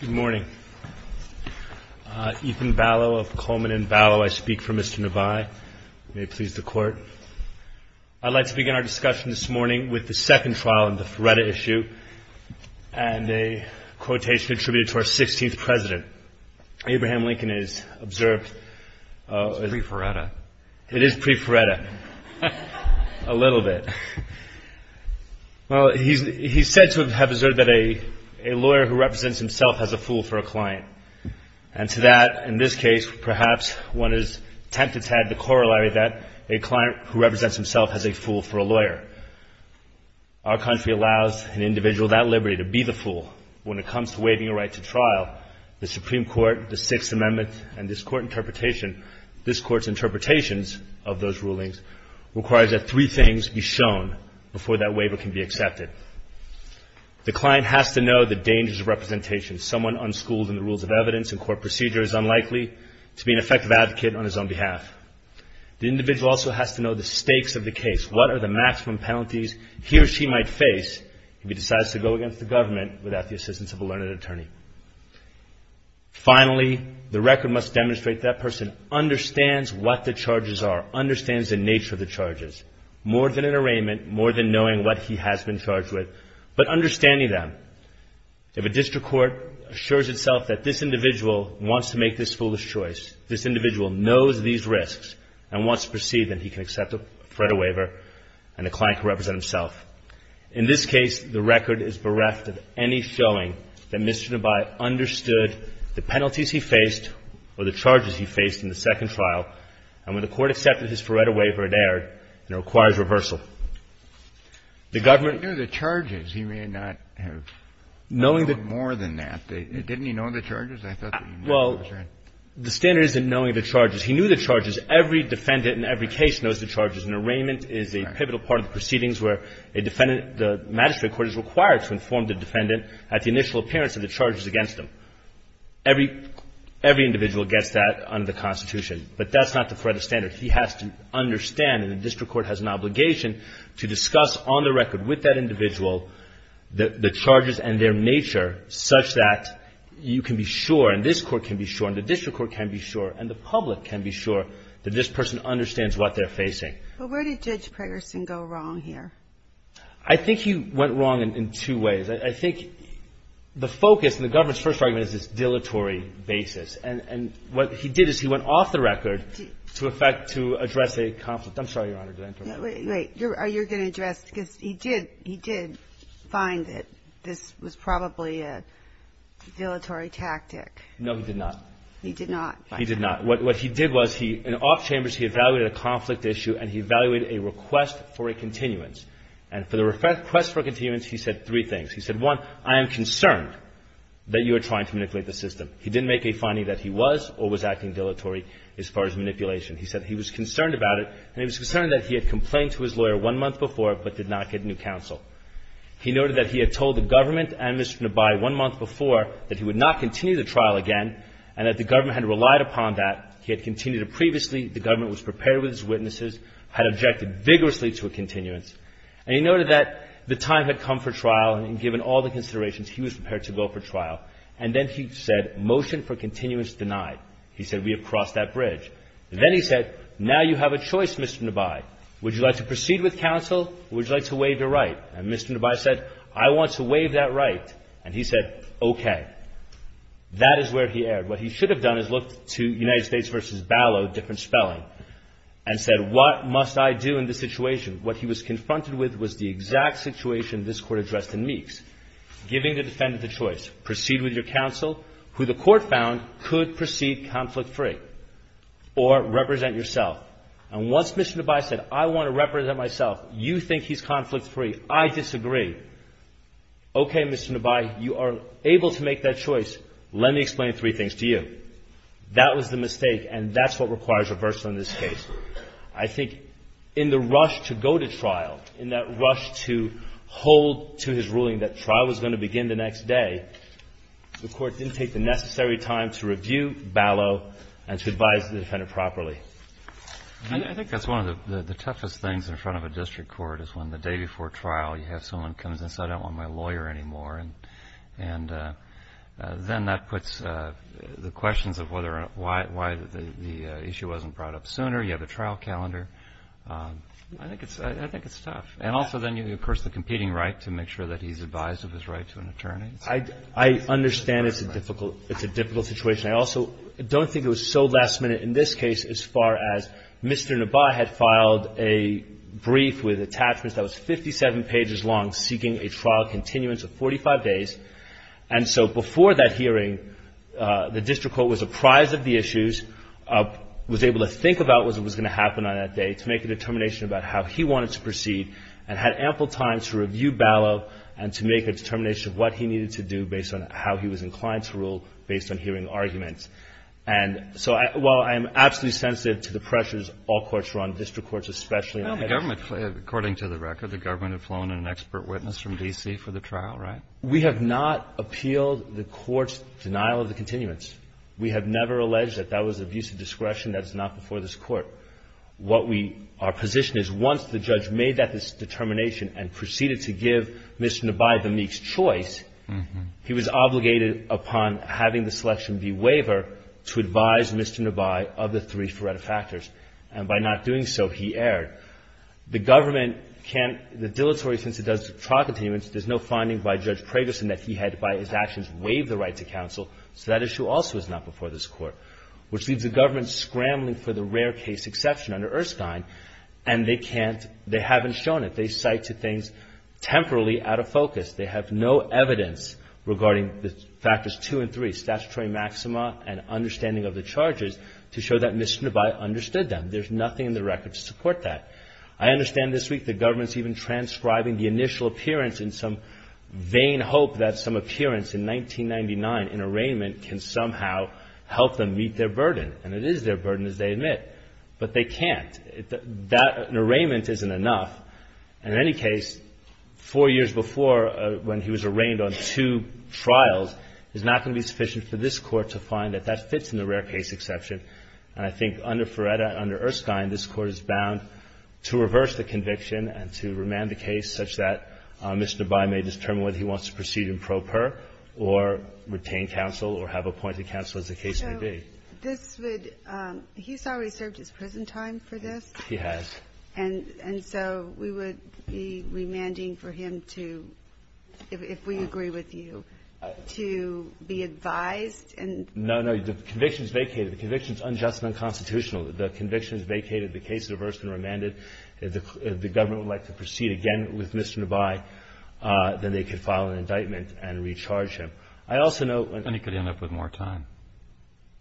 Good morning. Ethan Ballow of Coleman & Ballow. I speak for Mr. Nabaie. May it please the Court that I am here to speak on the second trial in the Feretta issue and a quotation attributed to our 16th President, Abraham Lincoln. He is said to have observed that a lawyer who represents himself as a fool for a client. And to that, in this case, perhaps one is tempted to add the corollary that a client who represents himself as a fool for a lawyer. Our country allows an individual that liberty to be the fool when it comes to waiving a right to trial. The Supreme Court, the Sixth Amendment, and this Court's interpretations of those rulings require that three things be shown before that waiver can be accepted. The client has to know the dangers of representation. Someone unschooled in the rules of evidence and court procedure is unlikely to be an effective advocate on his own behalf. The individual also has to know the stakes of the case. What are the maximum penalties he or she might face if he decides to go against the government without the assistance of a learned attorney? Finally, the record must demonstrate that person understands what the charges are, understands the nature of the charges, more than an arraignment, more than knowing what he has been charged with, but understanding them. If a district court assures itself that this individual wants to make this foolish choice, this individual knows these risks and wants to proceed, then he can accept a Feretta waiver and a client can represent himself. In this case, the record is bereft of any showing that Mr. Nabai understood the penalties he faced or the charges he faced in the second trial, and when the Court accepted his Feretta waiver, it erred, and it requires reversal. The government — Kennedy. He knew the charges. He may not have known them more than that. Didn't he know the charges? I thought that he knew the charges. The magistrate court is required to inform the defendant at the initial appearance of the charges against him. Every individual gets that under the Constitution, but that's not the Feretta standard. He has to understand, and the district court has an obligation, to discuss on the record with that individual the charges and their nature such that you can be sure and this court can be sure and the district court can be sure and the public can be sure that this person understands what they're facing. But where did Judge Pegerson go wrong here? I think he went wrong in two ways. I think the focus in the government's first argument is this dilatory basis, and what he did is he went off the record to address a conflict. I'm sorry, Your Honor, did I interrupt? Wait. Are you going to address — because he did find that this was probably a dilatory tactic. No, he did not. He did not. What he did was he — in off chambers he evaluated a conflict issue and he evaluated a request for a continuance, and for the request for a continuance he said three things. He said, one, I am concerned that you are trying to manipulate the system. He didn't make a finding that he was or was acting dilatory as far as manipulation. He said he was concerned about it, and he was concerned that he had complained to his lawyer one month before but did not get new counsel. He noted that he had told the government and Mr. Nabai one month before that he would not continue the trial again and that the government had relied upon that. He had continued it previously. The government was prepared with its witnesses, had objected vigorously to a continuance. And he noted that the time had come for trial, and given all the considerations, he was prepared to go for trial. And then he said, motion for continuance denied. He said, we have crossed that bridge. And then he said, now you have a choice, Mr. Nabai. Would you like to proceed with counsel or would you like to waive your right? And Mr. Nabai said, I want to waive that right. And he said, okay. That is where he erred. What he should have done is looked to United States v. Ballot, different spelling, and said, what must I do in this situation? What he was confronted with was the exact situation this Court addressed in Meeks, giving the defendant the choice, proceed with your counsel, who the Court found could proceed conflict-free, or represent yourself. And once Mr. Nabai said, I want to represent myself, you think he's conflict-free, I disagree. Okay, Mr. Nabai, you are able to make that choice. Let me explain three things to you. That was the mistake, and that's what requires reversal in this case. I think in the rush to go to trial, in that rush to hold to his ruling that trial was going to begin the next day, the Court didn't take the necessary time to review Ballot and to advise the defendant properly. I think that's one of the toughest things in front of a district court is when the day before trial, you have someone come and say, I don't want my lawyer anymore. And then that puts the questions of why the issue wasn't brought up sooner. You have a trial calendar. I think it's tough. And also then, of course, the competing right to make sure that he's advised of his right to an attorney. I understand it's a difficult situation. I also don't think it was so last-minute in this case as far as Mr. Nabai had filed a brief with attachments that was 57 pages long, seeking a trial continuance of 45 days. And so before that hearing, the district court was apprised of the issues, was able to think about what was going to happen on that day to make a determination about how he wanted to proceed and had ample time to review Ballot and to make a determination of what he needed to do based on how he was inclined to rule based on hearing arguments. And so while I am absolutely sensitive to the pressures all courts run, district courts especially. Well, the government, according to the record, the government had flown in an expert witness from D.C. for the trial, right? We have not appealed the court's denial of the continuance. We have never alleged that that was abuse of discretion. That is not before this court. What we, our position is once the judge made that determination and proceeded to give Mr. Nabai the meek's choice, he was obligated upon having the selection be waiver to advise Mr. Nabai of the three forerunner factors. And by not doing so, he erred. The government can't, the dilatory since it does trial continuance, there's no finding by Judge Pragerson that he had, by his actions, waived the right to counsel. So that issue also is not before this court, which leaves the government scrambling for the rare case exception under Erskine, and they can't, they haven't shown it. They cite two things temporarily out of focus. They have no evidence regarding the factors two and three, statutory maxima and understanding of the charges, to show that Mr. Nabai understood them. There's nothing in the record to support that. I understand this week the government's even transcribing the initial appearance in some vain hope that some appearance in 1999 in arraignment can somehow help them meet their burden. And it is their burden, as they admit. But they can't. That arraignment isn't enough. And in any case, four years before, when he was arraigned on two trials, it's not going to be sufficient for this Court to find that that fits in the rare case exception. And I think under Feretta, under Erskine, this Court is bound to reverse the conviction and to remand the case such that Mr. Nabai may determine whether he wants to proceed in pro per or retain counsel or have appointed counsel, as the case may be. So this would – he's already served his prison time for this. He has. And so we would be remanding for him to, if we agree with you, to be advised and – No, no. The conviction is vacated. The conviction is unjust and unconstitutional. The conviction is vacated. The case is reversed and remanded. If the government would like to proceed again with Mr. Nabai, then they could file an indictment and recharge him. I also note – And he could end up with more time.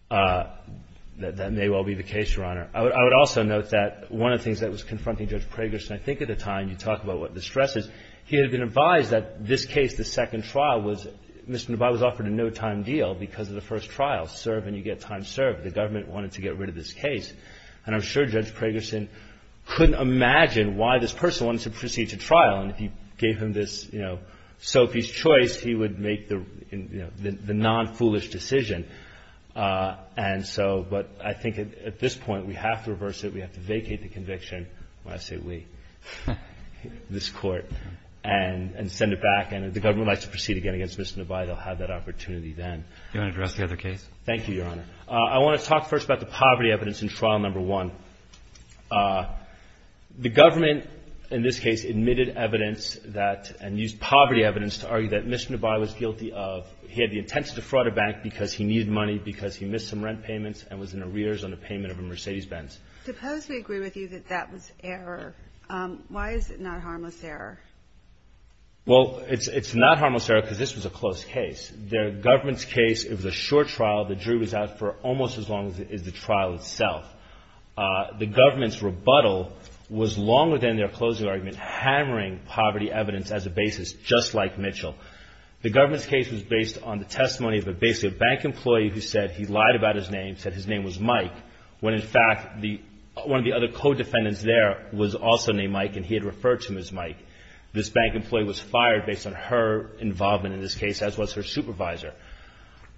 That may well be the case, Your Honor. I would also note that one of the things that was confronting Judge Pragerson, I think at the time, you talk about what the stress is, he had been advised that this case, the second trial, was – Mr. Nabai was offered a no-time deal because of the first trial. Serve and you get time served. The government wanted to get rid of this case. And I'm sure Judge Pragerson couldn't imagine why this person wanted to proceed to trial. And if you gave him this, you know, Sophie's Choice, he would make the non-foolish decision. And so – but I think at this point we have to reverse it. We have to vacate the conviction. When I say we, this Court, and send it back. And if the government would like to proceed again against Mr. Nabai, they'll have that opportunity then. Do you want to address the other case? Thank you, Your Honor. I want to talk first about the poverty evidence in trial number one. The government, in this case, admitted evidence that – and used poverty evidence to argue that Mr. Nabai was guilty of – he had the intent to defraud a bank because he needed money because he missed some rent payments and was in arrears on the payment of a Mercedes-Benz. Suppose we agree with you that that was error. Why is it not harmless error? Well, it's not harmless error because this was a close case. The government's case, it was a short trial. The jury was out for almost as long as the trial itself. The government's rebuttal was longer than their closing argument, hammering poverty evidence as a basis, just like Mitchell. The government's case was based on the testimony of basically a bank employee who said he lied about his name, said his name was Mike, when in fact one of the other co-defendants there was also named Mike and he had referred to him as Mike. This bank employee was fired based on her involvement in this case, as was her supervisor.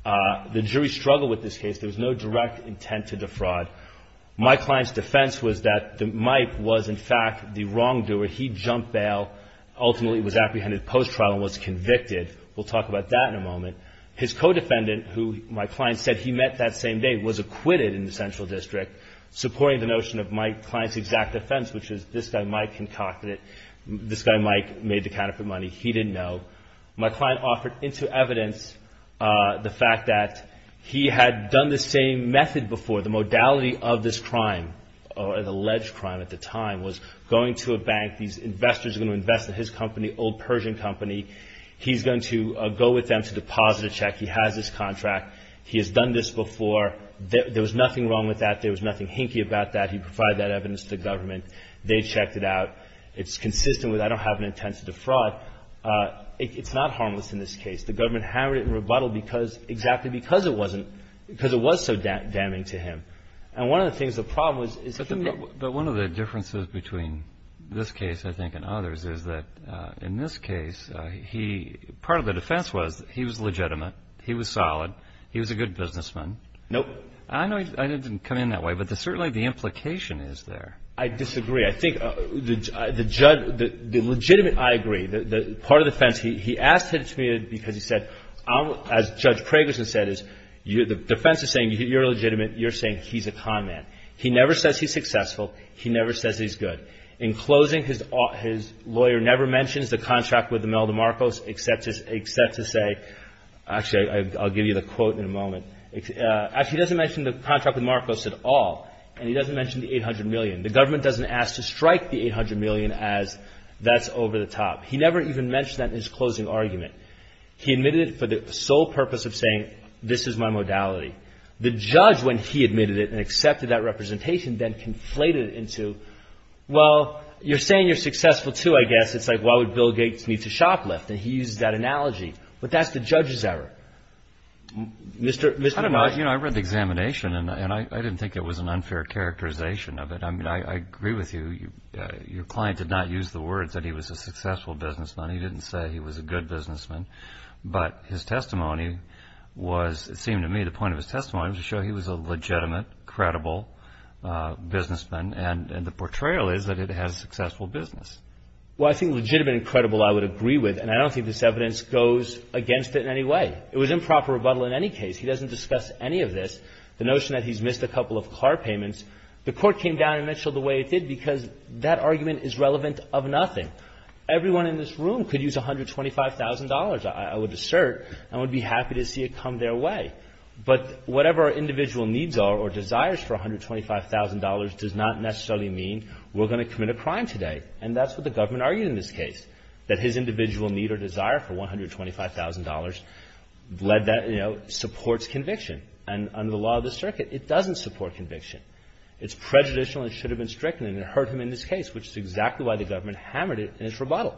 The jury struggled with this case. There was no direct intent to defraud. Mike Klein's defense was that Mike was in fact the wrongdoer. He jumped bail, ultimately was apprehended post-trial and was convicted. We'll talk about that in a moment. His co-defendant, who Mike Klein said he met that same day, was acquitted in the central district, supporting the notion of Mike Klein's exact defense, which is this guy Mike concocted it. This guy Mike made the counterfeit money. He didn't know. Mike Klein offered into evidence the fact that he had done the same method before. The modality of this crime or the alleged crime at the time was going to a bank. These investors were going to invest in his company, Old Persian Company. He's going to go with them to deposit a check. He has this contract. He has done this before. There was nothing wrong with that. There was nothing hinky about that. He provided that evidence to the government. They checked it out. It's consistent with I don't have an intent to defraud. It's not harmless in this case. The government hammered it and rebuttaled because – exactly because it wasn't – because it was so damning to him. And one of the things, the problem was – But one of the differences between this case, I think, and others is that in this case, he – part of the defense was he was legitimate. He was solid. He was a good businessman. Nope. I know I didn't come in that way, but certainly the implication is there. I disagree. I think the legitimate – I agree. Part of the defense, he asked it to me because he said, as Judge Pragerson said, the defense is saying you're legitimate. You're saying he's a con man. He never says he's successful. He never says he's good. In closing, his lawyer never mentions the contract with Imelda Marcos except to say – actually, I'll give you the quote in a moment. Actually, he doesn't mention the contract with Marcos at all, and he doesn't mention the $800 million. The government doesn't ask to strike the $800 million as that's over the top. He never even mentioned that in his closing argument. He admitted it for the sole purpose of saying this is my modality. The judge, when he admitted it and accepted that representation, then conflated it into, well, you're saying you're successful, too, I guess. It's like why would Bill Gates need to shoplift, and he used that analogy. But that's the judge's error. Mr. Prager. I don't know. You know, I read the examination, and I didn't think it was an unfair characterization of it. I mean, I agree with you. Your client did not use the words that he was a successful businessman. He didn't say he was a good businessman. But his testimony was, it seemed to me, the point of his testimony was to show he was a legitimate, credible businessman, and the portrayal is that it has successful business. Well, I think legitimate and credible I would agree with, and I don't think this evidence goes against it in any way. It was improper rebuttal in any case. He doesn't discuss any of this. The notion that he's missed a couple of car payments, the Court came down and mentioned it the way it did because that argument is relevant of nothing. Everyone in this room could use $125,000, I would assert, and would be happy to see it come their way. But whatever our individual needs are or desires for $125,000 does not necessarily mean we're going to commit a crime today. And that's what the government argued in this case, that his individual need or desire for $125,000 led that, you know, it supports conviction. And under the law of the circuit, it doesn't support conviction. It's prejudicial and should have been stricken, and it hurt him in this case, which is exactly why the government hammered it in its rebuttal.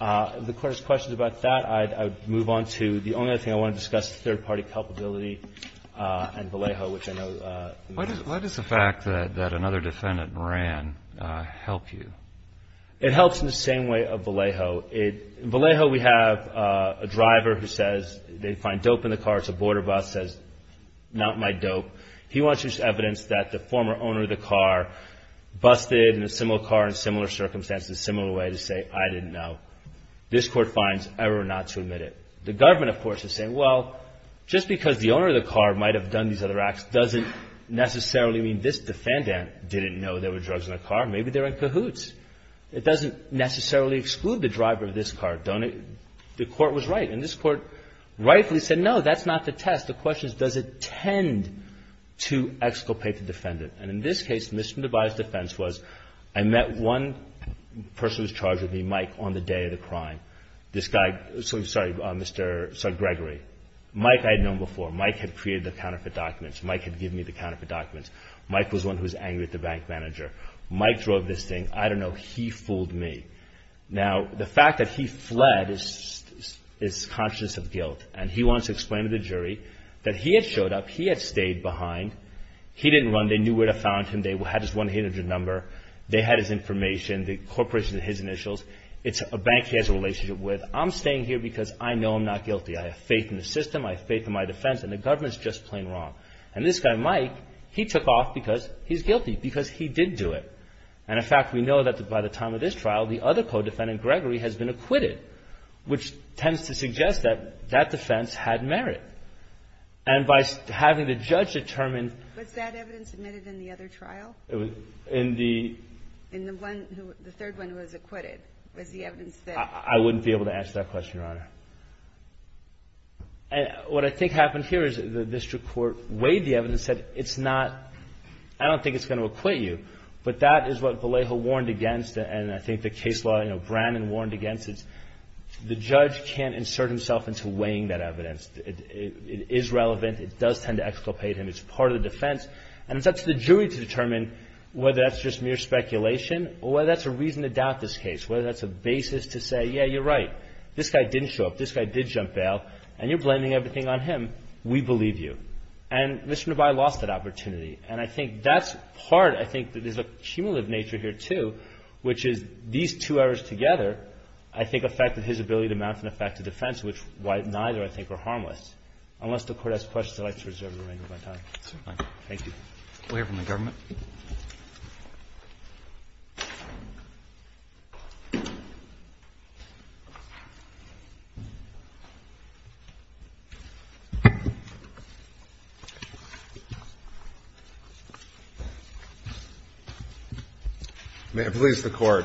If the Court has questions about that, I'd move on to the only other thing I want to discuss, the third-party culpability and Vallejo, which I know you mentioned. Why does the fact that another defendant ran help you? It helps in the same way of Vallejo. In Vallejo, we have a driver who says they find dope in the car. It's a border bus, says, not my dope. He wants evidence that the former owner of the car busted a similar car in similar circumstances, a similar way to say, I didn't know. This Court finds error not to admit it. The government, of course, is saying, well, just because the owner of the car might have done these other acts doesn't necessarily mean this defendant didn't know there were drugs in the car. Maybe they're in cahoots. It doesn't necessarily exclude the driver of this car. The Court was right. And this Court rightfully said, no, that's not the test. The question is, does it tend to exculpate the defendant? And in this case, misdemeanorized defense was I met one person who was charged with me, Mike, on the day of the crime. This guy, sorry, Mr. Gregory. Mike I had known before. Mike had created the counterfeit documents. Mike had given me the counterfeit documents. Mike was the one who was angry at the bank manager. Mike drove this thing. I don't know. He fooled me. Now, the fact that he fled is conscious of guilt. And he wants to explain to the jury that he had showed up. He had stayed behind. He didn't run. They knew where to find him. They had his 1-800 number. They had his information, the corporation and his initials. It's a bank he has a relationship with. I'm staying here because I know I'm not guilty. I have faith in the system. I have faith in my defense. And the government is just plain wrong. And this guy, Mike, he took off because he's guilty, because he did do it. And, in fact, we know that by the time of this trial, the other co-defendant, Gregory, has been acquitted, which tends to suggest that that defense had merit. And by having the judge determine ---- Was that evidence admitted in the other trial? In the ---- In the one who, the third one who was acquitted. Was the evidence that ---- I wouldn't be able to answer that question, Your Honor. And what I think happened here is the district court weighed the evidence, said it's not, I don't think it's going to acquit you. But that is what Vallejo warned against. And I think the case law, you know, Brannon warned against it. The judge can't insert himself into weighing that evidence. It is relevant. It does tend to exculpate him. It's part of the defense. And it's up to the jury to determine whether that's just mere speculation or whether that's a reason to doubt this case, whether that's a basis to say, yeah, you're right. This guy didn't show up. This guy did jump bail. And you're blaming everything on him. We believe you. And Mr. Nebai lost that opportunity. And I think that's part, I think, there's a cumulative nature here, too, which is these two errors together, I think, affected his ability to mount an effective defense, which neither, I think, are harmless. Unless the Court has questions, I'd like to reserve the remainder of my time. Thank you. We'll hear from the government. May I please the Court,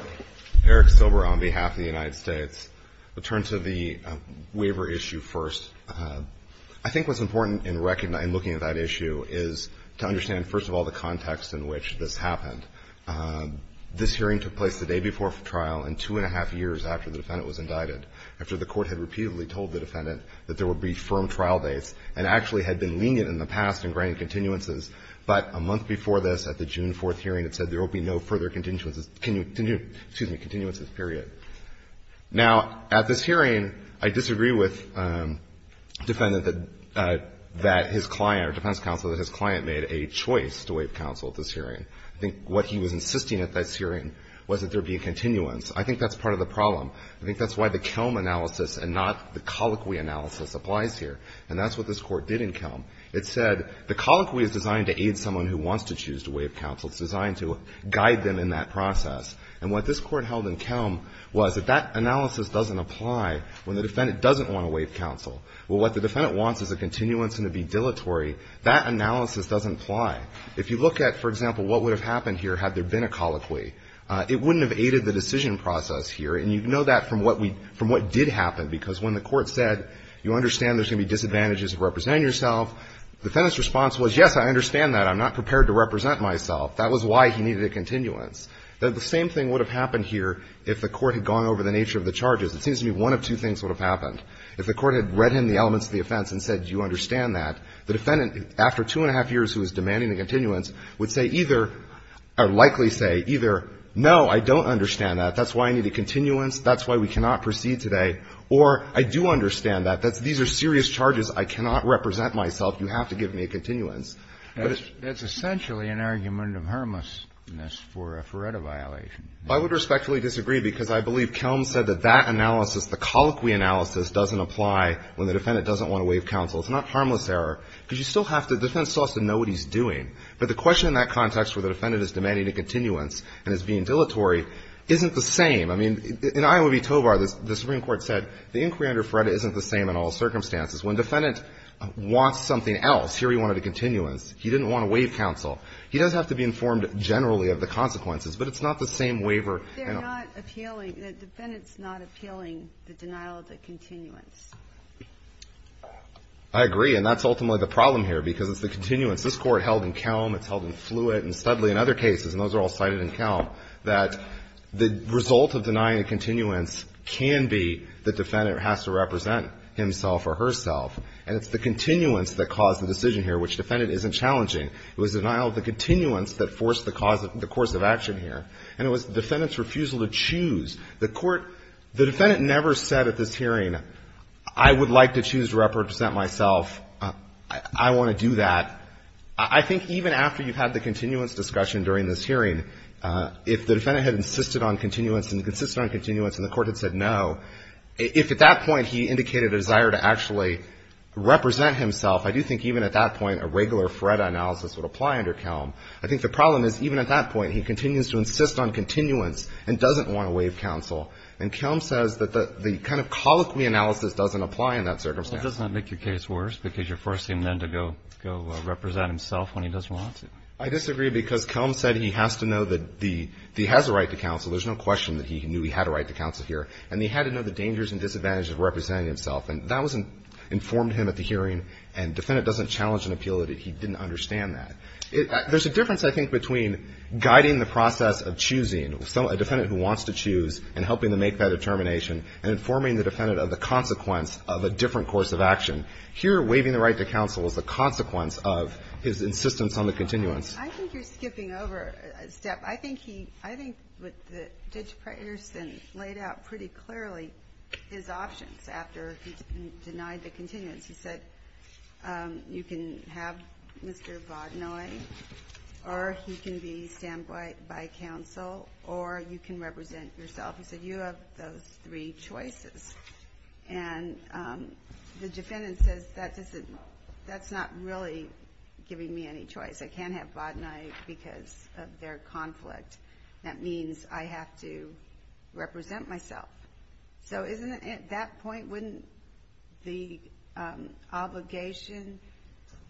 Eric Silber on behalf of the United States, return to the waiver issue first. I think what's important in looking at that issue is to understand, first of all, the context in which this happened. This hearing took place the day before trial and two and a half years after the defendant was indicted, after the Court had repeatedly told the defendant that there would be firm trial dates and actually had been lenient in the past in granting continuances. But a month before this, at the June 4th hearing, it said there will be no further continuances, excuse me, continuances, period. Now, at this hearing, I disagree with the defendant that his client, or defense counsel, that his client made a choice to waive counsel at this hearing. I think what he was insisting at this hearing was that there be a continuance. I think that's part of the problem. I think that's why the Kelm analysis and not the Colloquy analysis applies here, and that's what this Court did in Kelm. It said the Colloquy is designed to aid someone who wants to choose to waive counsel. It's designed to guide them in that process. And what this Court held in Kelm was that that analysis doesn't apply when the defendant doesn't want to waive counsel. Well, what the defendant wants is a continuance and to be dilatory. That analysis doesn't apply. If you look at, for example, what would have happened here had there been a Colloquy, it wouldn't have aided the decision process here. And you know that from what did happen, because when the Court said, you understand there's going to be disadvantages of representing yourself, the defendant's response was, yes, I understand that. I'm not prepared to represent myself. That was why he needed a continuance. The same thing would have happened here if the Court had gone over the nature of the charges. It seems to me one of two things would have happened. If the Court had read in the elements of the offense and said, do you understand that, the defendant, after two and a half years who was demanding a continuance, would say either or likely say either, no, I don't understand that. That's why I need a continuance. That's why we cannot proceed today. Or I do understand that. These are serious charges. I cannot represent myself. You have to give me a continuance. It's essentially an argument of harmlessness for a Feretta violation. I would respectfully disagree, because I believe Kelm said that that analysis, the colloquy analysis, doesn't apply when the defendant doesn't want to waive counsel. It's not harmless error, because you still have to, the defense still has to know what he's doing. But the question in that context where the defendant is demanding a continuance and is being dilatory isn't the same. I mean, in Iowa v. Tovar, the Supreme Court said the inquiry under Feretta isn't the same in all circumstances. When the defendant wants something else, here he wanted a continuance, he didn't want to waive counsel. He does have to be informed generally of the consequences. But it's not the same waiver. They're not appealing. The defendant's not appealing the denial of the continuance. I agree. And that's ultimately the problem here, because it's the continuance. This Court held in Kelm, it's held in Fluitt and Studley and other cases, and those are all cited in Kelm, that the result of denying a continuance can be the defendant has to represent himself or herself. And it's the continuance that caused the decision here, which the defendant isn't challenging. It was denial of the continuance that forced the cause of the course of action here. And it was the defendant's refusal to choose. The Court, the defendant never said at this hearing, I would like to choose to represent myself. I want to do that. I think even after you've had the continuance discussion during this hearing, if the Court said no, if at that point he indicated a desire to actually represent himself, I do think even at that point a regular FREDA analysis would apply under Kelm. I think the problem is even at that point he continues to insist on continuance and doesn't want to waive counsel. And Kelm says that the kind of colloquy analysis doesn't apply in that circumstance. Well, it does not make your case worse, because you're forcing him then to go represent himself when he doesn't want to. I disagree, because Kelm said he has to know that he has a right to counsel. There's no question that he knew he had a right to counsel here. And he had to know the dangers and disadvantages of representing himself. And that was informed him at the hearing. And defendant doesn't challenge an appeal that he didn't understand that. There's a difference, I think, between guiding the process of choosing a defendant who wants to choose and helping them make that determination and informing the defendant of the consequence of a different course of action. Here, waiving the right to counsel is the consequence of his insistence on the continuance. I think you're skipping over a step. I think he – I think that Judge Preterson laid out pretty clearly his options after he denied the continuance. He said, you can have Mr. Vaudenoye, or he can be standpoint by counsel, or you can represent yourself. He said, you have those three choices. And the defendant says, that doesn't – that's not really giving me any choice. I can't have Vaudenoye because of their conflict. That means I have to represent myself. So isn't it at that point, wouldn't the obligation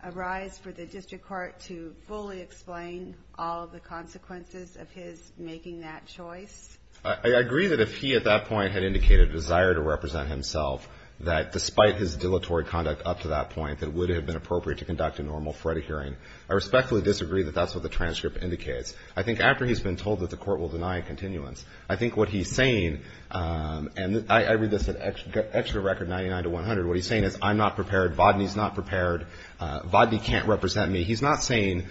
arise for the district court to fully explain all of the consequences of his making that choice? I agree that if he at that point had indicated a desire to represent himself, that despite his dilatory conduct up to that point, that it would have been appropriate to conduct a normal FREDA hearing. I respectfully disagree that that's what the transcript indicates. I think after he's been told that the court will deny continuance, I think what he's saying – and I read this at extra record 99 to 100. What he's saying is, I'm not prepared. Vaudenoye's not prepared. Vaudenoye can't represent me. He's not saying,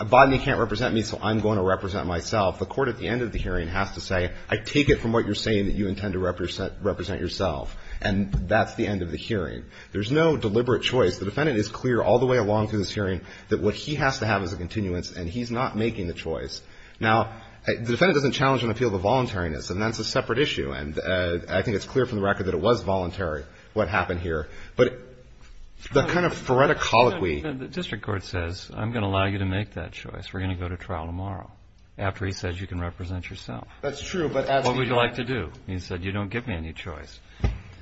Vaudenoye can't represent me, so I'm going to represent myself. The court at the end of the hearing has to say, I take it from what you're saying that you intend to represent yourself. And that's the end of the hearing. There's no deliberate choice. The defendant is clear all the way along through this hearing that what he has to have is a continuance, and he's not making the choice. Now, the defendant doesn't challenge an appeal of a voluntariness, and that's a separate issue. And I think it's clear from the record that it was voluntary, what happened here. But the kind of FREDA colloquy – The district court says, I'm going to allow you to make that choice. We're going to go to trial tomorrow, after he says you can represent yourself. That's true, but as he – What would you like to do? He said, you don't give me any choice.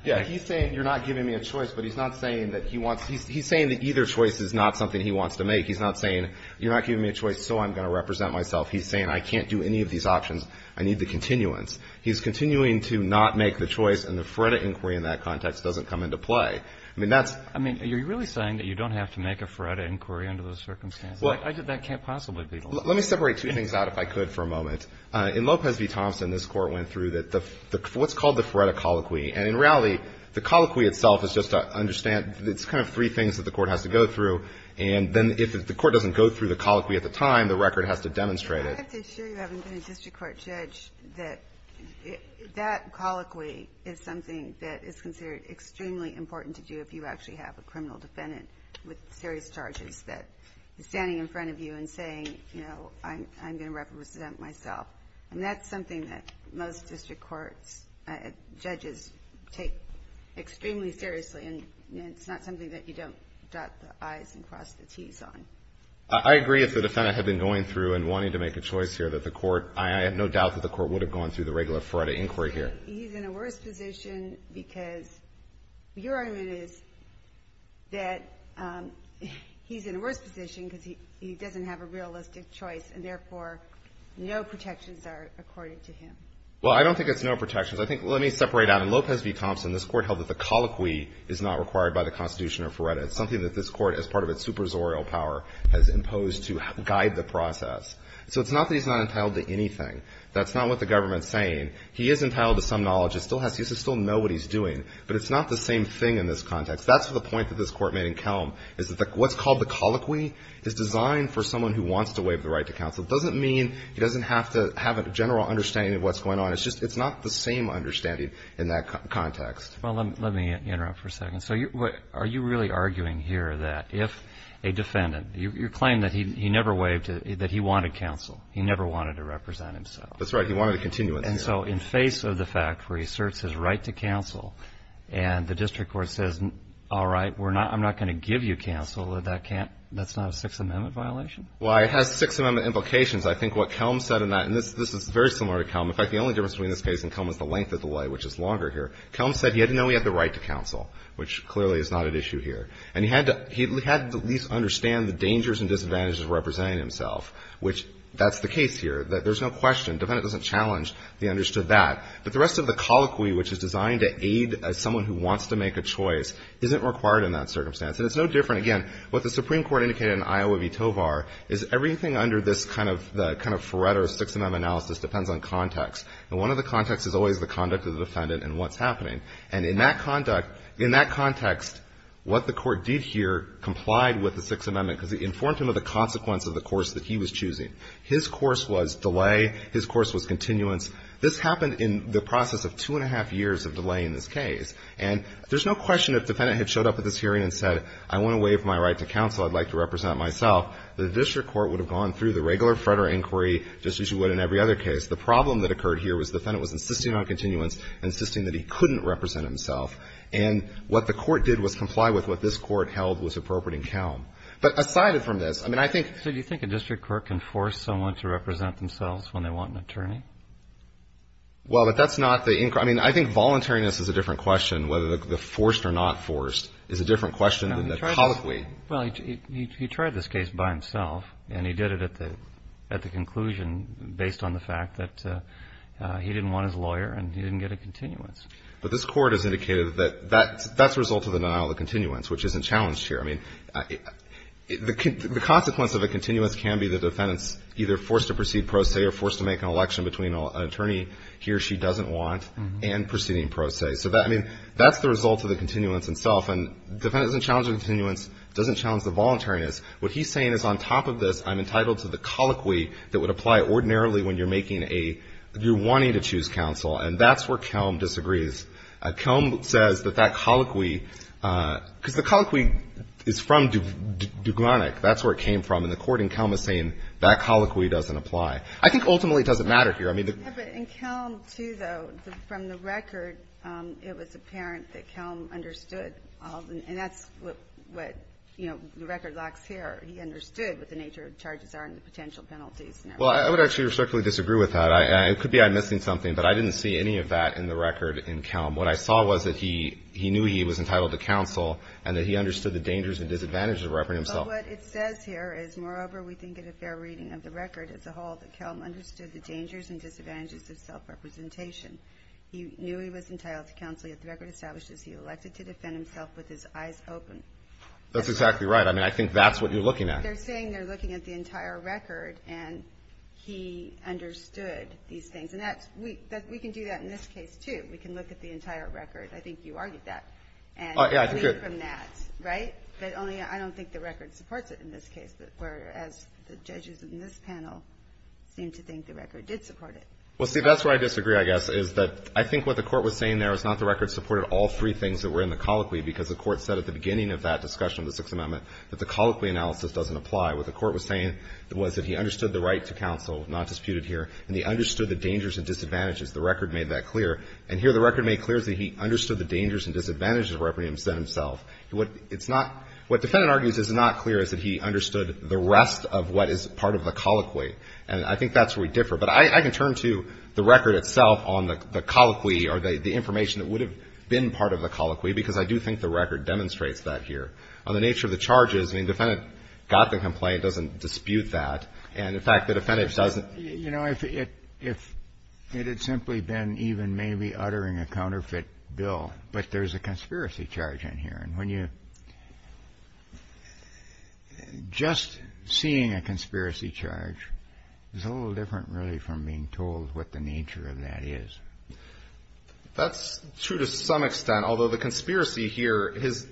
Yeah, he's saying you're not giving me a choice, but he's not saying that he wants – he's saying that either choice is not something he wants to make. He's not saying, you're not giving me a choice, so I'm going to represent myself. He's saying I can't do any of these options. I need the continuance. He's continuing to not make the choice, and the FREDA inquiry in that context doesn't come into play. I mean, that's – I mean, are you really saying that you don't have to make a FREDA inquiry under those circumstances? That can't possibly be the law. Let me separate two things out, if I could, for a moment. In Lopez v. Thompson, this Court went through what's called the FREDA colloquy. And in reality, the colloquy itself is just to understand – it's kind of three things that the Court has to go through, and then if the Court doesn't go through the colloquy at the time, the record has to demonstrate it. I have to assure you, having been a district court judge, that that colloquy is something that is considered extremely important to do if you actually have a criminal defendant with serious charges that is standing in front of you and saying, you know, I'm going to represent myself. And that's something that most district courts, judges, take extremely seriously. And it's not something that you don't dot the I's and cross the T's on. I agree if the defendant had been going through and wanting to make a choice here that the Court – I have no doubt that the Court would have gone through the regular FREDA inquiry here. He's in a worse position because your argument is that he's in a worse position because he doesn't have a realistic choice and, therefore, no protections are accorded to him. Well, I don't think it's no protections. I think – let me separate out. In Lopez v. Thompson, this Court held that the colloquy is not required by the Constitution of FREDA. It's something that this Court, as part of its suprazorial power, has imposed to guide the process. So it's not that he's not entitled to anything. That's not what the government's saying. He is entitled to some knowledge. He still has – he should still know what he's doing. But it's not the same thing in this context. That's the point that this Court made in Kelm, is that what's called the colloquy is designed for someone who wants to waive the right to counsel. It doesn't mean he doesn't have to have a general understanding of what's going on. It's just it's not the same understanding in that context. Well, let me interrupt for a second. So are you really arguing here that if a defendant – you claim that he never waived – that he wanted counsel. He never wanted to represent himself. That's right. He wanted a continuance. And so in face of the fact where he asserts his right to counsel and the district court says, all right, we're not – I'm not going to give you counsel, that that can't – that's not a Sixth Amendment violation? Well, it has Sixth Amendment implications. I think what Kelm said in that – and this is very similar to Kelm. In fact, the only difference between this case and Kelm is the length of the way, which is longer here. Kelm said he had to know he had the right to counsel, which clearly is not at issue here. And he had to at least understand the dangers and disadvantages of representing himself, which that's the case here. There's no question. The defendant doesn't challenge that he understood that. But the rest of the colloquy, which is designed to aid someone who wants to make a choice, isn't required in that circumstance. And it's no different, again, what the Supreme Court indicated in Iowa v. Tovar, is everything under this kind of – the kind of Faretto Sixth Amendment analysis depends on context. And one of the contexts is always the conduct of the defendant and what's happening. And in that conduct – in that context, what the court did here complied with the Sixth Amendment because it informed him of the consequence of the course that he was choosing. His course was delay. His course was continuance. This happened in the process of two and a half years of delay in this case. And there's no question if the defendant had showed up at this hearing and said, I want to waive my right to counsel, I'd like to represent myself, the district court would have gone through the regular Fretter inquiry just as you would in every other case. The problem that occurred here was the defendant was insisting on continuance, insisting that he couldn't represent himself. And what the court did was comply with what this court held was appropriate in Kelm. But aside from this, I mean, I think – Well, but that's not the – I mean, I think voluntariness is a different question, whether the forced or not forced is a different question than the colloquy. No, he tried this – well, he tried this case by himself, and he did it at the conclusion based on the fact that he didn't want his lawyer and he didn't get a continuance. But this court has indicated that that's a result of the denial of continuance, which isn't challenged here. The defendant's either forced to proceed pro se or forced to make an election between an attorney he or she doesn't want and proceeding pro se. So, I mean, that's the result of the continuance itself. And the defendant doesn't challenge the continuance, doesn't challenge the voluntariness. What he's saying is, on top of this, I'm entitled to the colloquy that would apply ordinarily when you're making a – you're wanting to choose counsel. And that's where Kelm disagrees. Kelm says that that colloquy – because the colloquy is from Duglanek. That's where it came from. And the court in Kelm is saying that colloquy doesn't apply. I think, ultimately, it doesn't matter here. I mean, the – Yeah, but in Kelm, too, though, from the record, it was apparent that Kelm understood. And that's what, you know, the record locks here. He understood what the nature of charges are and the potential penalties and everything. Well, I would actually respectfully disagree with that. It could be I'm missing something, but I didn't see any of that in the record in Kelm. What I saw was that he knew he was entitled to counsel and that he understood the dangers and disadvantages of reprimanding himself. Well, what it says here is, moreover, we think it a fair reading of the record as a whole that Kelm understood the dangers and disadvantages of self-representation. He knew he was entitled to counsel yet the record establishes he elected to defend himself with his eyes open. That's exactly right. I mean, I think that's what you're looking at. They're saying they're looking at the entire record and he understood these things. And that's – we can do that in this case, too. We can look at the entire record. I think you argued that. Yeah, I think I did. Well, we can learn from that, right? But only I don't think the record supports it in this case, whereas the judges in this panel seem to think the record did support it. Well, see, that's where I disagree, I guess, is that I think what the court was saying there is not the record supported all three things that were in the colloquy because the court said at the beginning of that discussion of the Sixth Amendment that the colloquy analysis doesn't apply. What the court was saying was that he understood the right to counsel, not disputed here, and he understood the dangers and disadvantages. And here the record made clear that he understood the dangers and disadvantages of reprieve instead of himself. What it's not – what the defendant argues is not clear is that he understood the rest of what is part of the colloquy. And I think that's where we differ. But I can turn to the record itself on the colloquy or the information that would have been part of the colloquy because I do think the record demonstrates that here. On the nature of the charges, I mean, the defendant got the complaint, doesn't dispute that. And, in fact, the defendant doesn't. You know, if it had simply been even maybe uttering a counterfeit bill, but there's a conspiracy charge in here. And when you – just seeing a conspiracy charge is a little different, really, from being told what the nature of that is. That's true to some extent, although the conspiracy here – his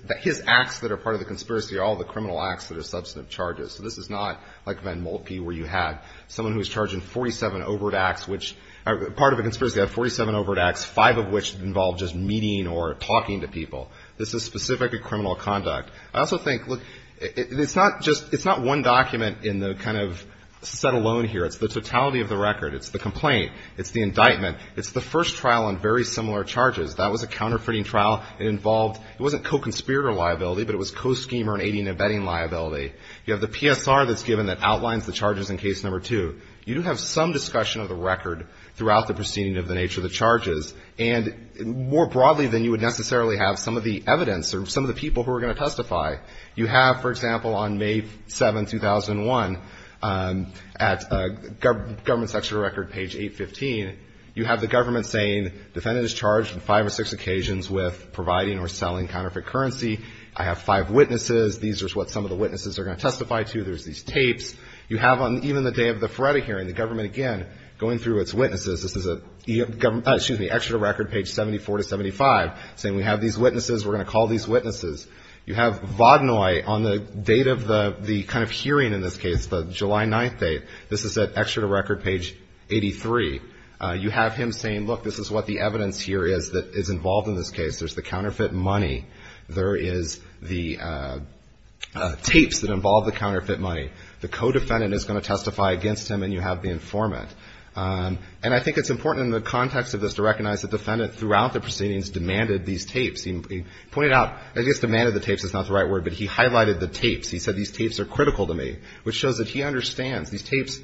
acts that are part of the conspiracy are all the criminal acts that are substantive charges. So this is not like Van Moltke where you had someone who was charged in 47 overt acts, which – part of a conspiracy act, 47 overt acts, five of which involved just meeting or talking to people. This is specifically criminal conduct. I also think, look, it's not just – it's not one document in the kind of set alone here. It's the totality of the record. It's the complaint. It's the indictment. It's the first trial on very similar charges. That was a counterfeiting trial. It involved – it wasn't co-conspirator liability, but it was co-schemer and aiding and abetting liability. You have the PSR that's given that outlines the charges in case number two. You do have some discussion of the record throughout the proceeding of the nature of the charges. And more broadly than you would necessarily have, some of the evidence or some of the people who are going to testify. You have, for example, on May 7, 2001, at Government Section of the Record, page 815, you have the government saying defendant is charged on five or six occasions with providing or selling counterfeit currency. I have five witnesses. These are what some of the witnesses are going to testify to. There's these tapes. You have on even the day of the Ferretti hearing, the government again going through its witnesses. This is at Exeter Record, page 74 to 75, saying we have these witnesses. We're going to call these witnesses. You have Vaudenoye on the date of the kind of hearing in this case, the July 9th date. This is at Exeter Record, page 83. You have him saying, look, this is what the evidence here is that is involved in this case. There's the counterfeit money. There is the tapes that involve the counterfeit money. The co-defendant is going to testify against him, and you have the informant. And I think it's important in the context of this to recognize the defendant throughout the proceedings demanded these tapes. He pointed out, I guess demanded the tapes is not the right word, but he highlighted the tapes. He said these tapes are critical to me, which shows that he understands. These tapes,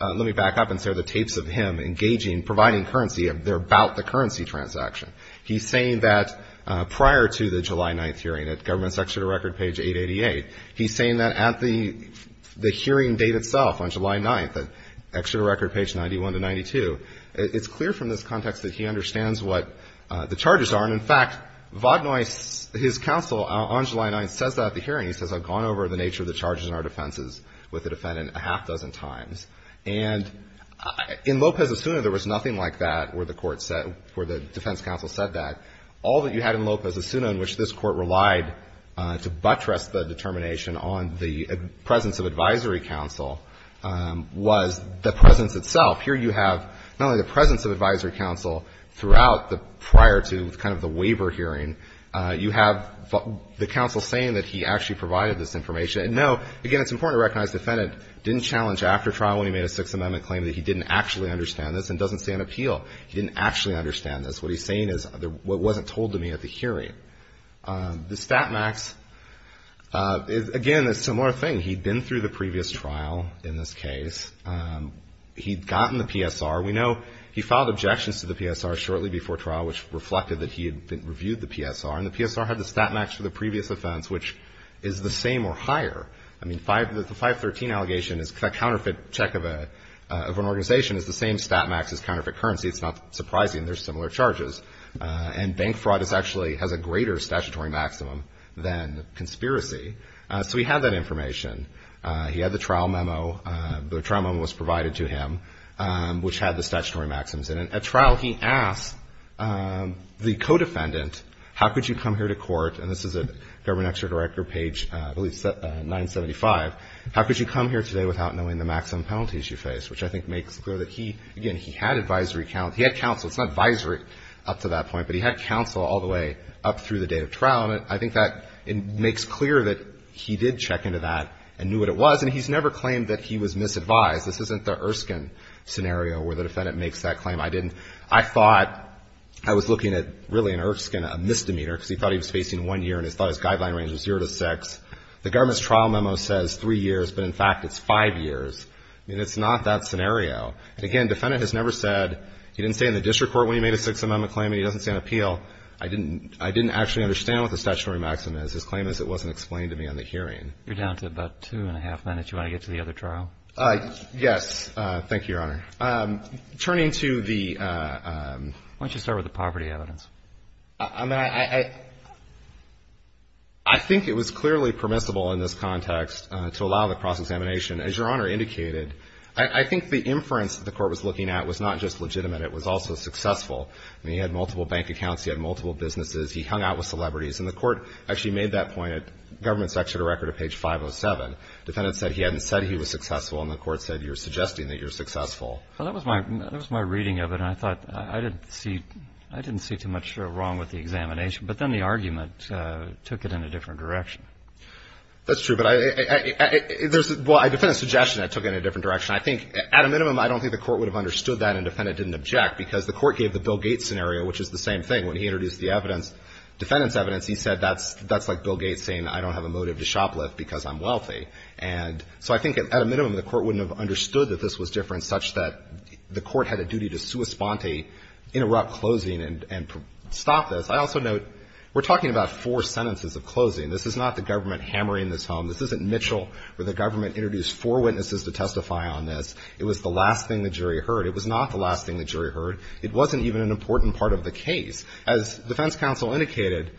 let me back up and say the tapes of him engaging, providing currency, they're about the currency transaction. He's saying that prior to the July 9th hearing at Government's Exeter Record, page 888, he's saying that at the hearing date itself on July 9th, Exeter Record, page 91 to 92, it's clear from this context that he understands what the charges are. And, in fact, Vaudenoye's, his counsel on July 9th says that at the hearing. He says, I've gone over the nature of the charges in our defenses with the defendant a half dozen times. And in Lopez-Asuna, there was nothing like that where the court said, where the defense counsel said that. All that you had in Lopez-Asuna in which this Court relied to buttress the determination on the presence of advisory counsel was the presence itself. Here you have not only the presence of advisory counsel throughout the prior to kind of the waiver hearing. You have the counsel saying that he actually provided this information. And, no, again, it's important to recognize the defendant didn't challenge after trial when he made a Sixth Amendment claim that he didn't actually understand this and doesn't stand appeal. He didn't actually understand this. What he's saying is what wasn't told to me at the hearing. The StatMax, again, a similar thing. He'd been through the previous trial in this case. He'd gotten the PSR. We know he filed objections to the PSR shortly before trial, which reflected that he had reviewed the PSR. And the PSR had the StatMax for the previous offense, which is the same or higher. I mean, the 513 allegation is a counterfeit check of an organization is the same StatMax as counterfeit currency. It's not surprising. They're similar charges. And bank fraud actually has a greater statutory maximum than conspiracy. So he had that information. He had the trial memo. The trial memo was provided to him, which had the statutory maximums in it. At trial, he asked the co-defendant, how could you come here to court? And this is at Government Extra Director page, I believe, 975. How could you come here today without knowing the maximum penalties you face? Which I think makes clear that he, again, he had advisory counsel. He had counsel. It's not advisory up to that point, but he had counsel all the way up through the date of trial. And I think that it makes clear that he did check into that and knew what it was. And he's never claimed that he was misadvised. This isn't the Erskine scenario where the defendant makes that claim. I didn't. I thought I was looking at really an Erskine, a misdemeanor, because he thought he was facing one year and he thought his guideline range was zero to six. The government's trial memo says three years, but, in fact, it's five years. I mean, it's not that scenario. Again, the defendant has never said he didn't stay in the district court when he made a Sixth Amendment claim and he doesn't stay on appeal. I didn't actually understand what the statutory maximum is. His claim is it wasn't explained to me on the hearing. You're down to about two and a half minutes. Do you want to get to the other trial? Yes. Thank you, Your Honor. Turning to the — Why don't you start with the poverty evidence? I mean, I think it was clearly permissible in this context to allow the cross-examination. As Your Honor indicated, I think the inference that the court was looking at was not just legitimate. It was also successful. I mean, he had multiple bank accounts. He had multiple businesses. He hung out with celebrities. And the court actually made that point. Government section of the record of page 507. Defendant said he hadn't said he was successful, and the court said you're suggesting that you're successful. Well, that was my reading of it, and I thought I didn't see too much wrong with the examination. But then the argument took it in a different direction. That's true. Well, I defend the suggestion it took it in a different direction. I think at a minimum, I don't think the court would have understood that and defendant didn't object, because the court gave the Bill Gates scenario, which is the same thing. When he introduced the evidence, defendant's evidence, he said that's like Bill Gates saying I don't have a motive to shoplift because I'm wealthy. And so I think at a minimum, the court wouldn't have understood that this was different, such that the court had a duty to sua sponte, interrupt closing, and stop this. I also note we're talking about four sentences of closing. This is not the government hammering this home. This isn't Mitchell where the government introduced four witnesses to testify on this. It was the last thing the jury heard. It was not the last thing the jury heard. It wasn't even an important part of the case. As defense counsel indicated,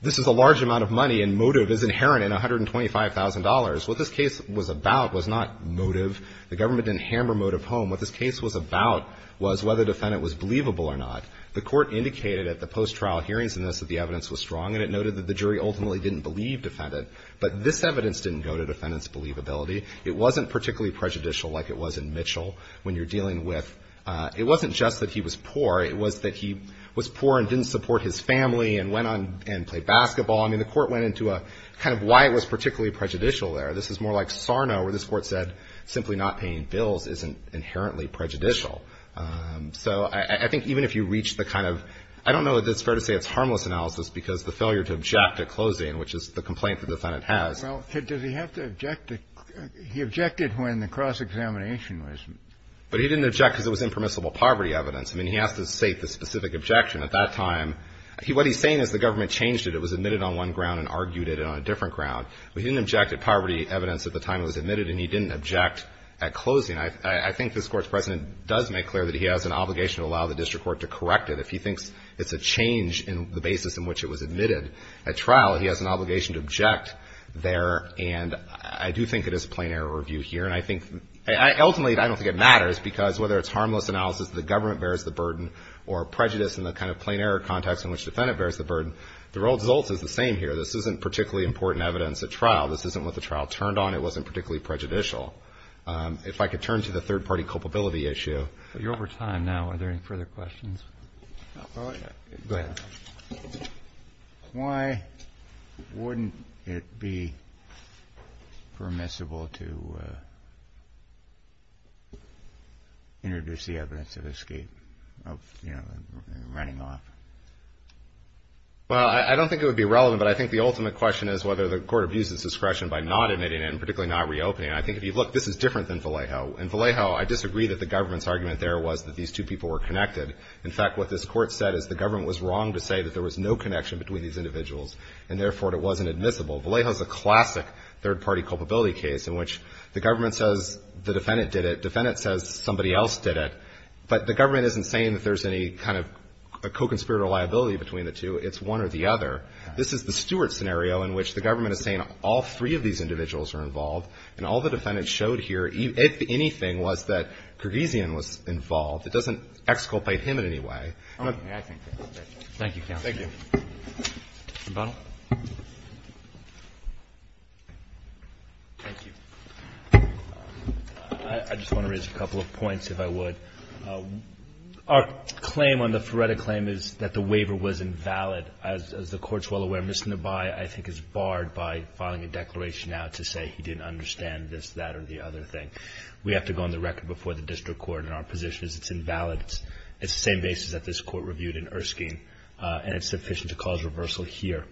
this is a large amount of money, and motive is inherent in $125,000. What this case was about was not motive. The government didn't hammer motive home. What this case was about was whether defendant was believable or not. The court indicated at the post-trial hearings in this that the evidence was strong, and it noted that the jury ultimately didn't believe defendant. But this evidence didn't go to defendant's believability. It wasn't particularly prejudicial like it was in Mitchell when you're dealing with. It wasn't just that he was poor. It was that he was poor and didn't support his family and went on and played basketball. I mean, the court went into a kind of why it was particularly prejudicial there. This is more like Sarno where this court said simply not paying bills isn't inherently prejudicial. So I think even if you reach the kind of, I don't know if it's fair to say it's harmless analysis because the failure to object at closing, which is the complaint the defendant has. Well, does he have to object? He objected when the cross-examination was. But he didn't object because it was impermissible poverty evidence. I mean, he has to state the specific objection at that time. What he's saying is the government changed it. It was admitted on one ground and argued it on a different ground. But he didn't object at poverty evidence at the time it was admitted, and he didn't object at closing. I think this Court's precedent does make clear that he has an obligation to allow the district court to correct it. If he thinks it's a change in the basis in which it was admitted at trial, he has an obligation to object there. And I do think it is a plain error review here. And I think ultimately I don't think it matters because whether it's harmless analysis, the government bears the burden, or prejudice in the kind of plain error context in which the defendant bears the burden, the result is the same here. This isn't particularly important evidence at trial. This isn't what the trial turned on. It wasn't particularly prejudicial. If I could turn to the third-party culpability issue. You're over time now. Are there any further questions? Go ahead. Why wouldn't it be permissible to introduce the evidence of escape, of, you know, running off? Well, I don't think it would be relevant, but I think the ultimate question is whether the Court abuses discretion by not admitting it and particularly not reopening it. And I think if you look, this is different than Vallejo. In Vallejo, I disagree that the government's argument there was that these two people were connected. In fact, what this Court said is the government was wrong to say that there was no connection between these individuals and therefore it wasn't admissible. Vallejo is a classic third-party culpability case in which the government says the defendant did it. Defendant says somebody else did it. But the government isn't saying that there's any kind of a co-conspirator liability between the two. It's one or the other. This is the Stewart scenario in which the government is saying all three of these individuals are involved. And all the defendants showed here, if anything, was that Gorgesian was involved. It doesn't exculpate him in any way. Roberts. Thank you, counsel. Thank you. Mr. Butler. Thank you. I just want to raise a couple of points, if I would. Our claim on the Ferretta claim is that the waiver was invalid. As the Court is well aware, Mr. Nabai, I think, is barred by filing a declaration now to say he didn't understand this, that, or the other thing. We have to go on the record before the district court in our position is it's invalid. It's the same basis that this Court reviewed in Erskine, and it's sufficient to cause reversal here.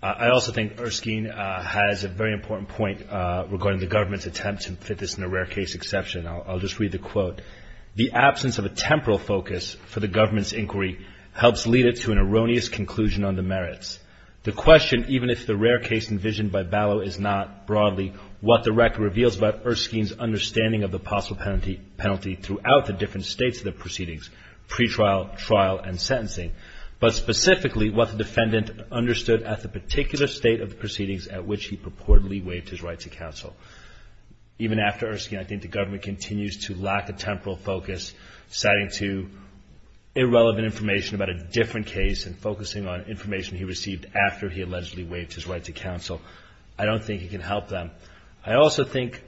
I also think Erskine has a very important point regarding the government's attempt to fit this in a rare case exception. I'll just read the quote. The absence of a temporal focus for the government's inquiry helps lead it to an erroneous conclusion on the merits. The question, even if the rare case envisioned by Ballot is not, broadly, what the record reveals about Erskine's understanding of the possible penalty throughout the different states of the proceedings, pretrial, trial, and sentencing, but specifically what the defendant understood at the particular state of the proceedings at which he purportedly waived his right to counsel. Even after Erskine, I think the government continues to lack a temporal focus, citing irrelevant information about a different case, and focusing on information he received after he allegedly waived his right to counsel. I don't think it can help them. I also think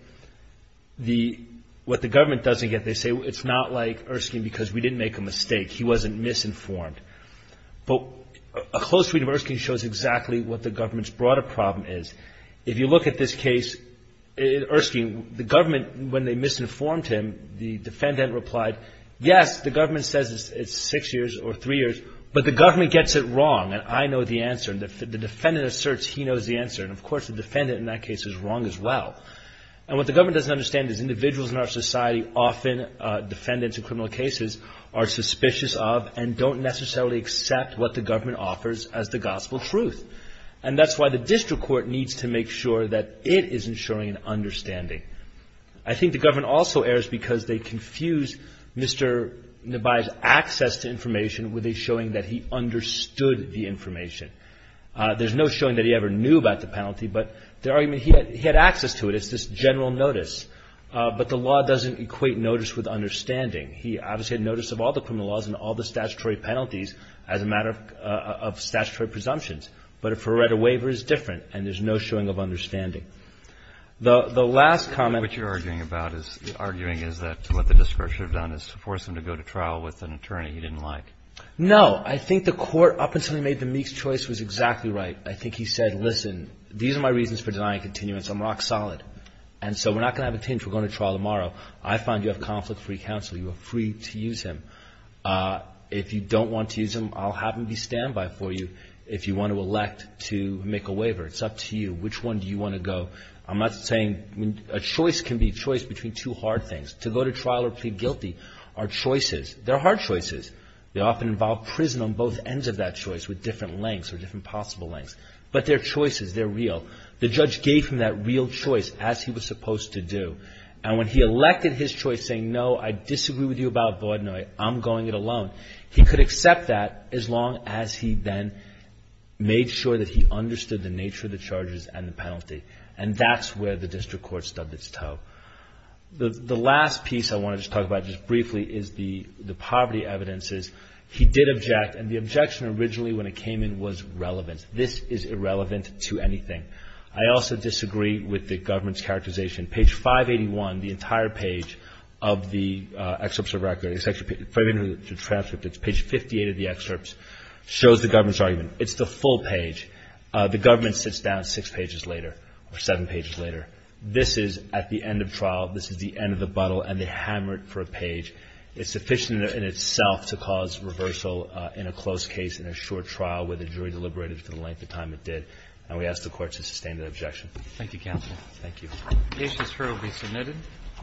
what the government doesn't get, they say, it's not like Erskine because we didn't make a mistake, he wasn't misinformed. But a close read of Erskine shows exactly what the government's broader problem is. If you look at this case, Erskine, the government, when they misinformed him, the defendant replied, yes, the government says it's six years or three years, but the government gets it wrong, and I know the answer. The defendant asserts he knows the answer, and, of course, the defendant in that case is wrong as well. And what the government doesn't understand is individuals in our society often, defendants in criminal cases, are suspicious of and don't necessarily accept what the government offers as the gospel truth. And that's why the district court needs to make sure that it is ensuring an understanding. I think the government also errs because they confuse Mr. Nebai's access to information with a showing that he understood the information. There's no showing that he ever knew about the penalty, but the argument, he had access to it, it's this general notice. But the law doesn't equate notice with understanding. He obviously had notice of all the criminal laws and all the statutory penalties as a matter of statutory presumptions. But if he read a waiver, it's different, and there's no showing of understanding. The last comment. What you're arguing about is, arguing is that what the district court should have done is to force him to go to trial with an attorney he didn't like. No. I think the Court, up until he made the Meeks choice, was exactly right. I think he said, listen, these are my reasons for denying continuance. I'm rock solid. And so we're not going to have a change. We're going to trial tomorrow. I find you have conflict-free counsel. You are free to use him. If you don't want to use him, I'll have him be standby for you. If you want to elect to make a waiver, it's up to you. Which one do you want to go? I'm not saying a choice can be a choice between two hard things. To go to trial or plead guilty are choices. They're hard choices. They often involve prison on both ends of that choice with different lengths or different possible lengths. But they're choices. They're real. The judge gave him that real choice, as he was supposed to do. And when he elected his choice saying, no, I disagree with you about Vaudenoye, I'm going it alone, he could accept that as long as he then made sure that he understood the nature of the charges and the penalty. And that's where the district court stubbed its toe. The last piece I want to just talk about just briefly is the poverty evidences. He did object, and the objection originally when it came in was relevant. This is irrelevant to anything. I also disagree with the government's characterization. Page 581, the entire page of the excerpts of record, it's actually further into the transcript. It's page 58 of the excerpts, shows the government's argument. It's the full page. The government sits down six pages later or seven pages later. This is at the end of trial. This is the end of the buttle, and they hammer it for a page. It's sufficient in itself to cause reversal in a close case, in a short trial, where the jury deliberated for the length of time it did. And we ask the Court to sustain that objection. Roberts. Thank you, Counsel. Thank you. Cases for are being submitted.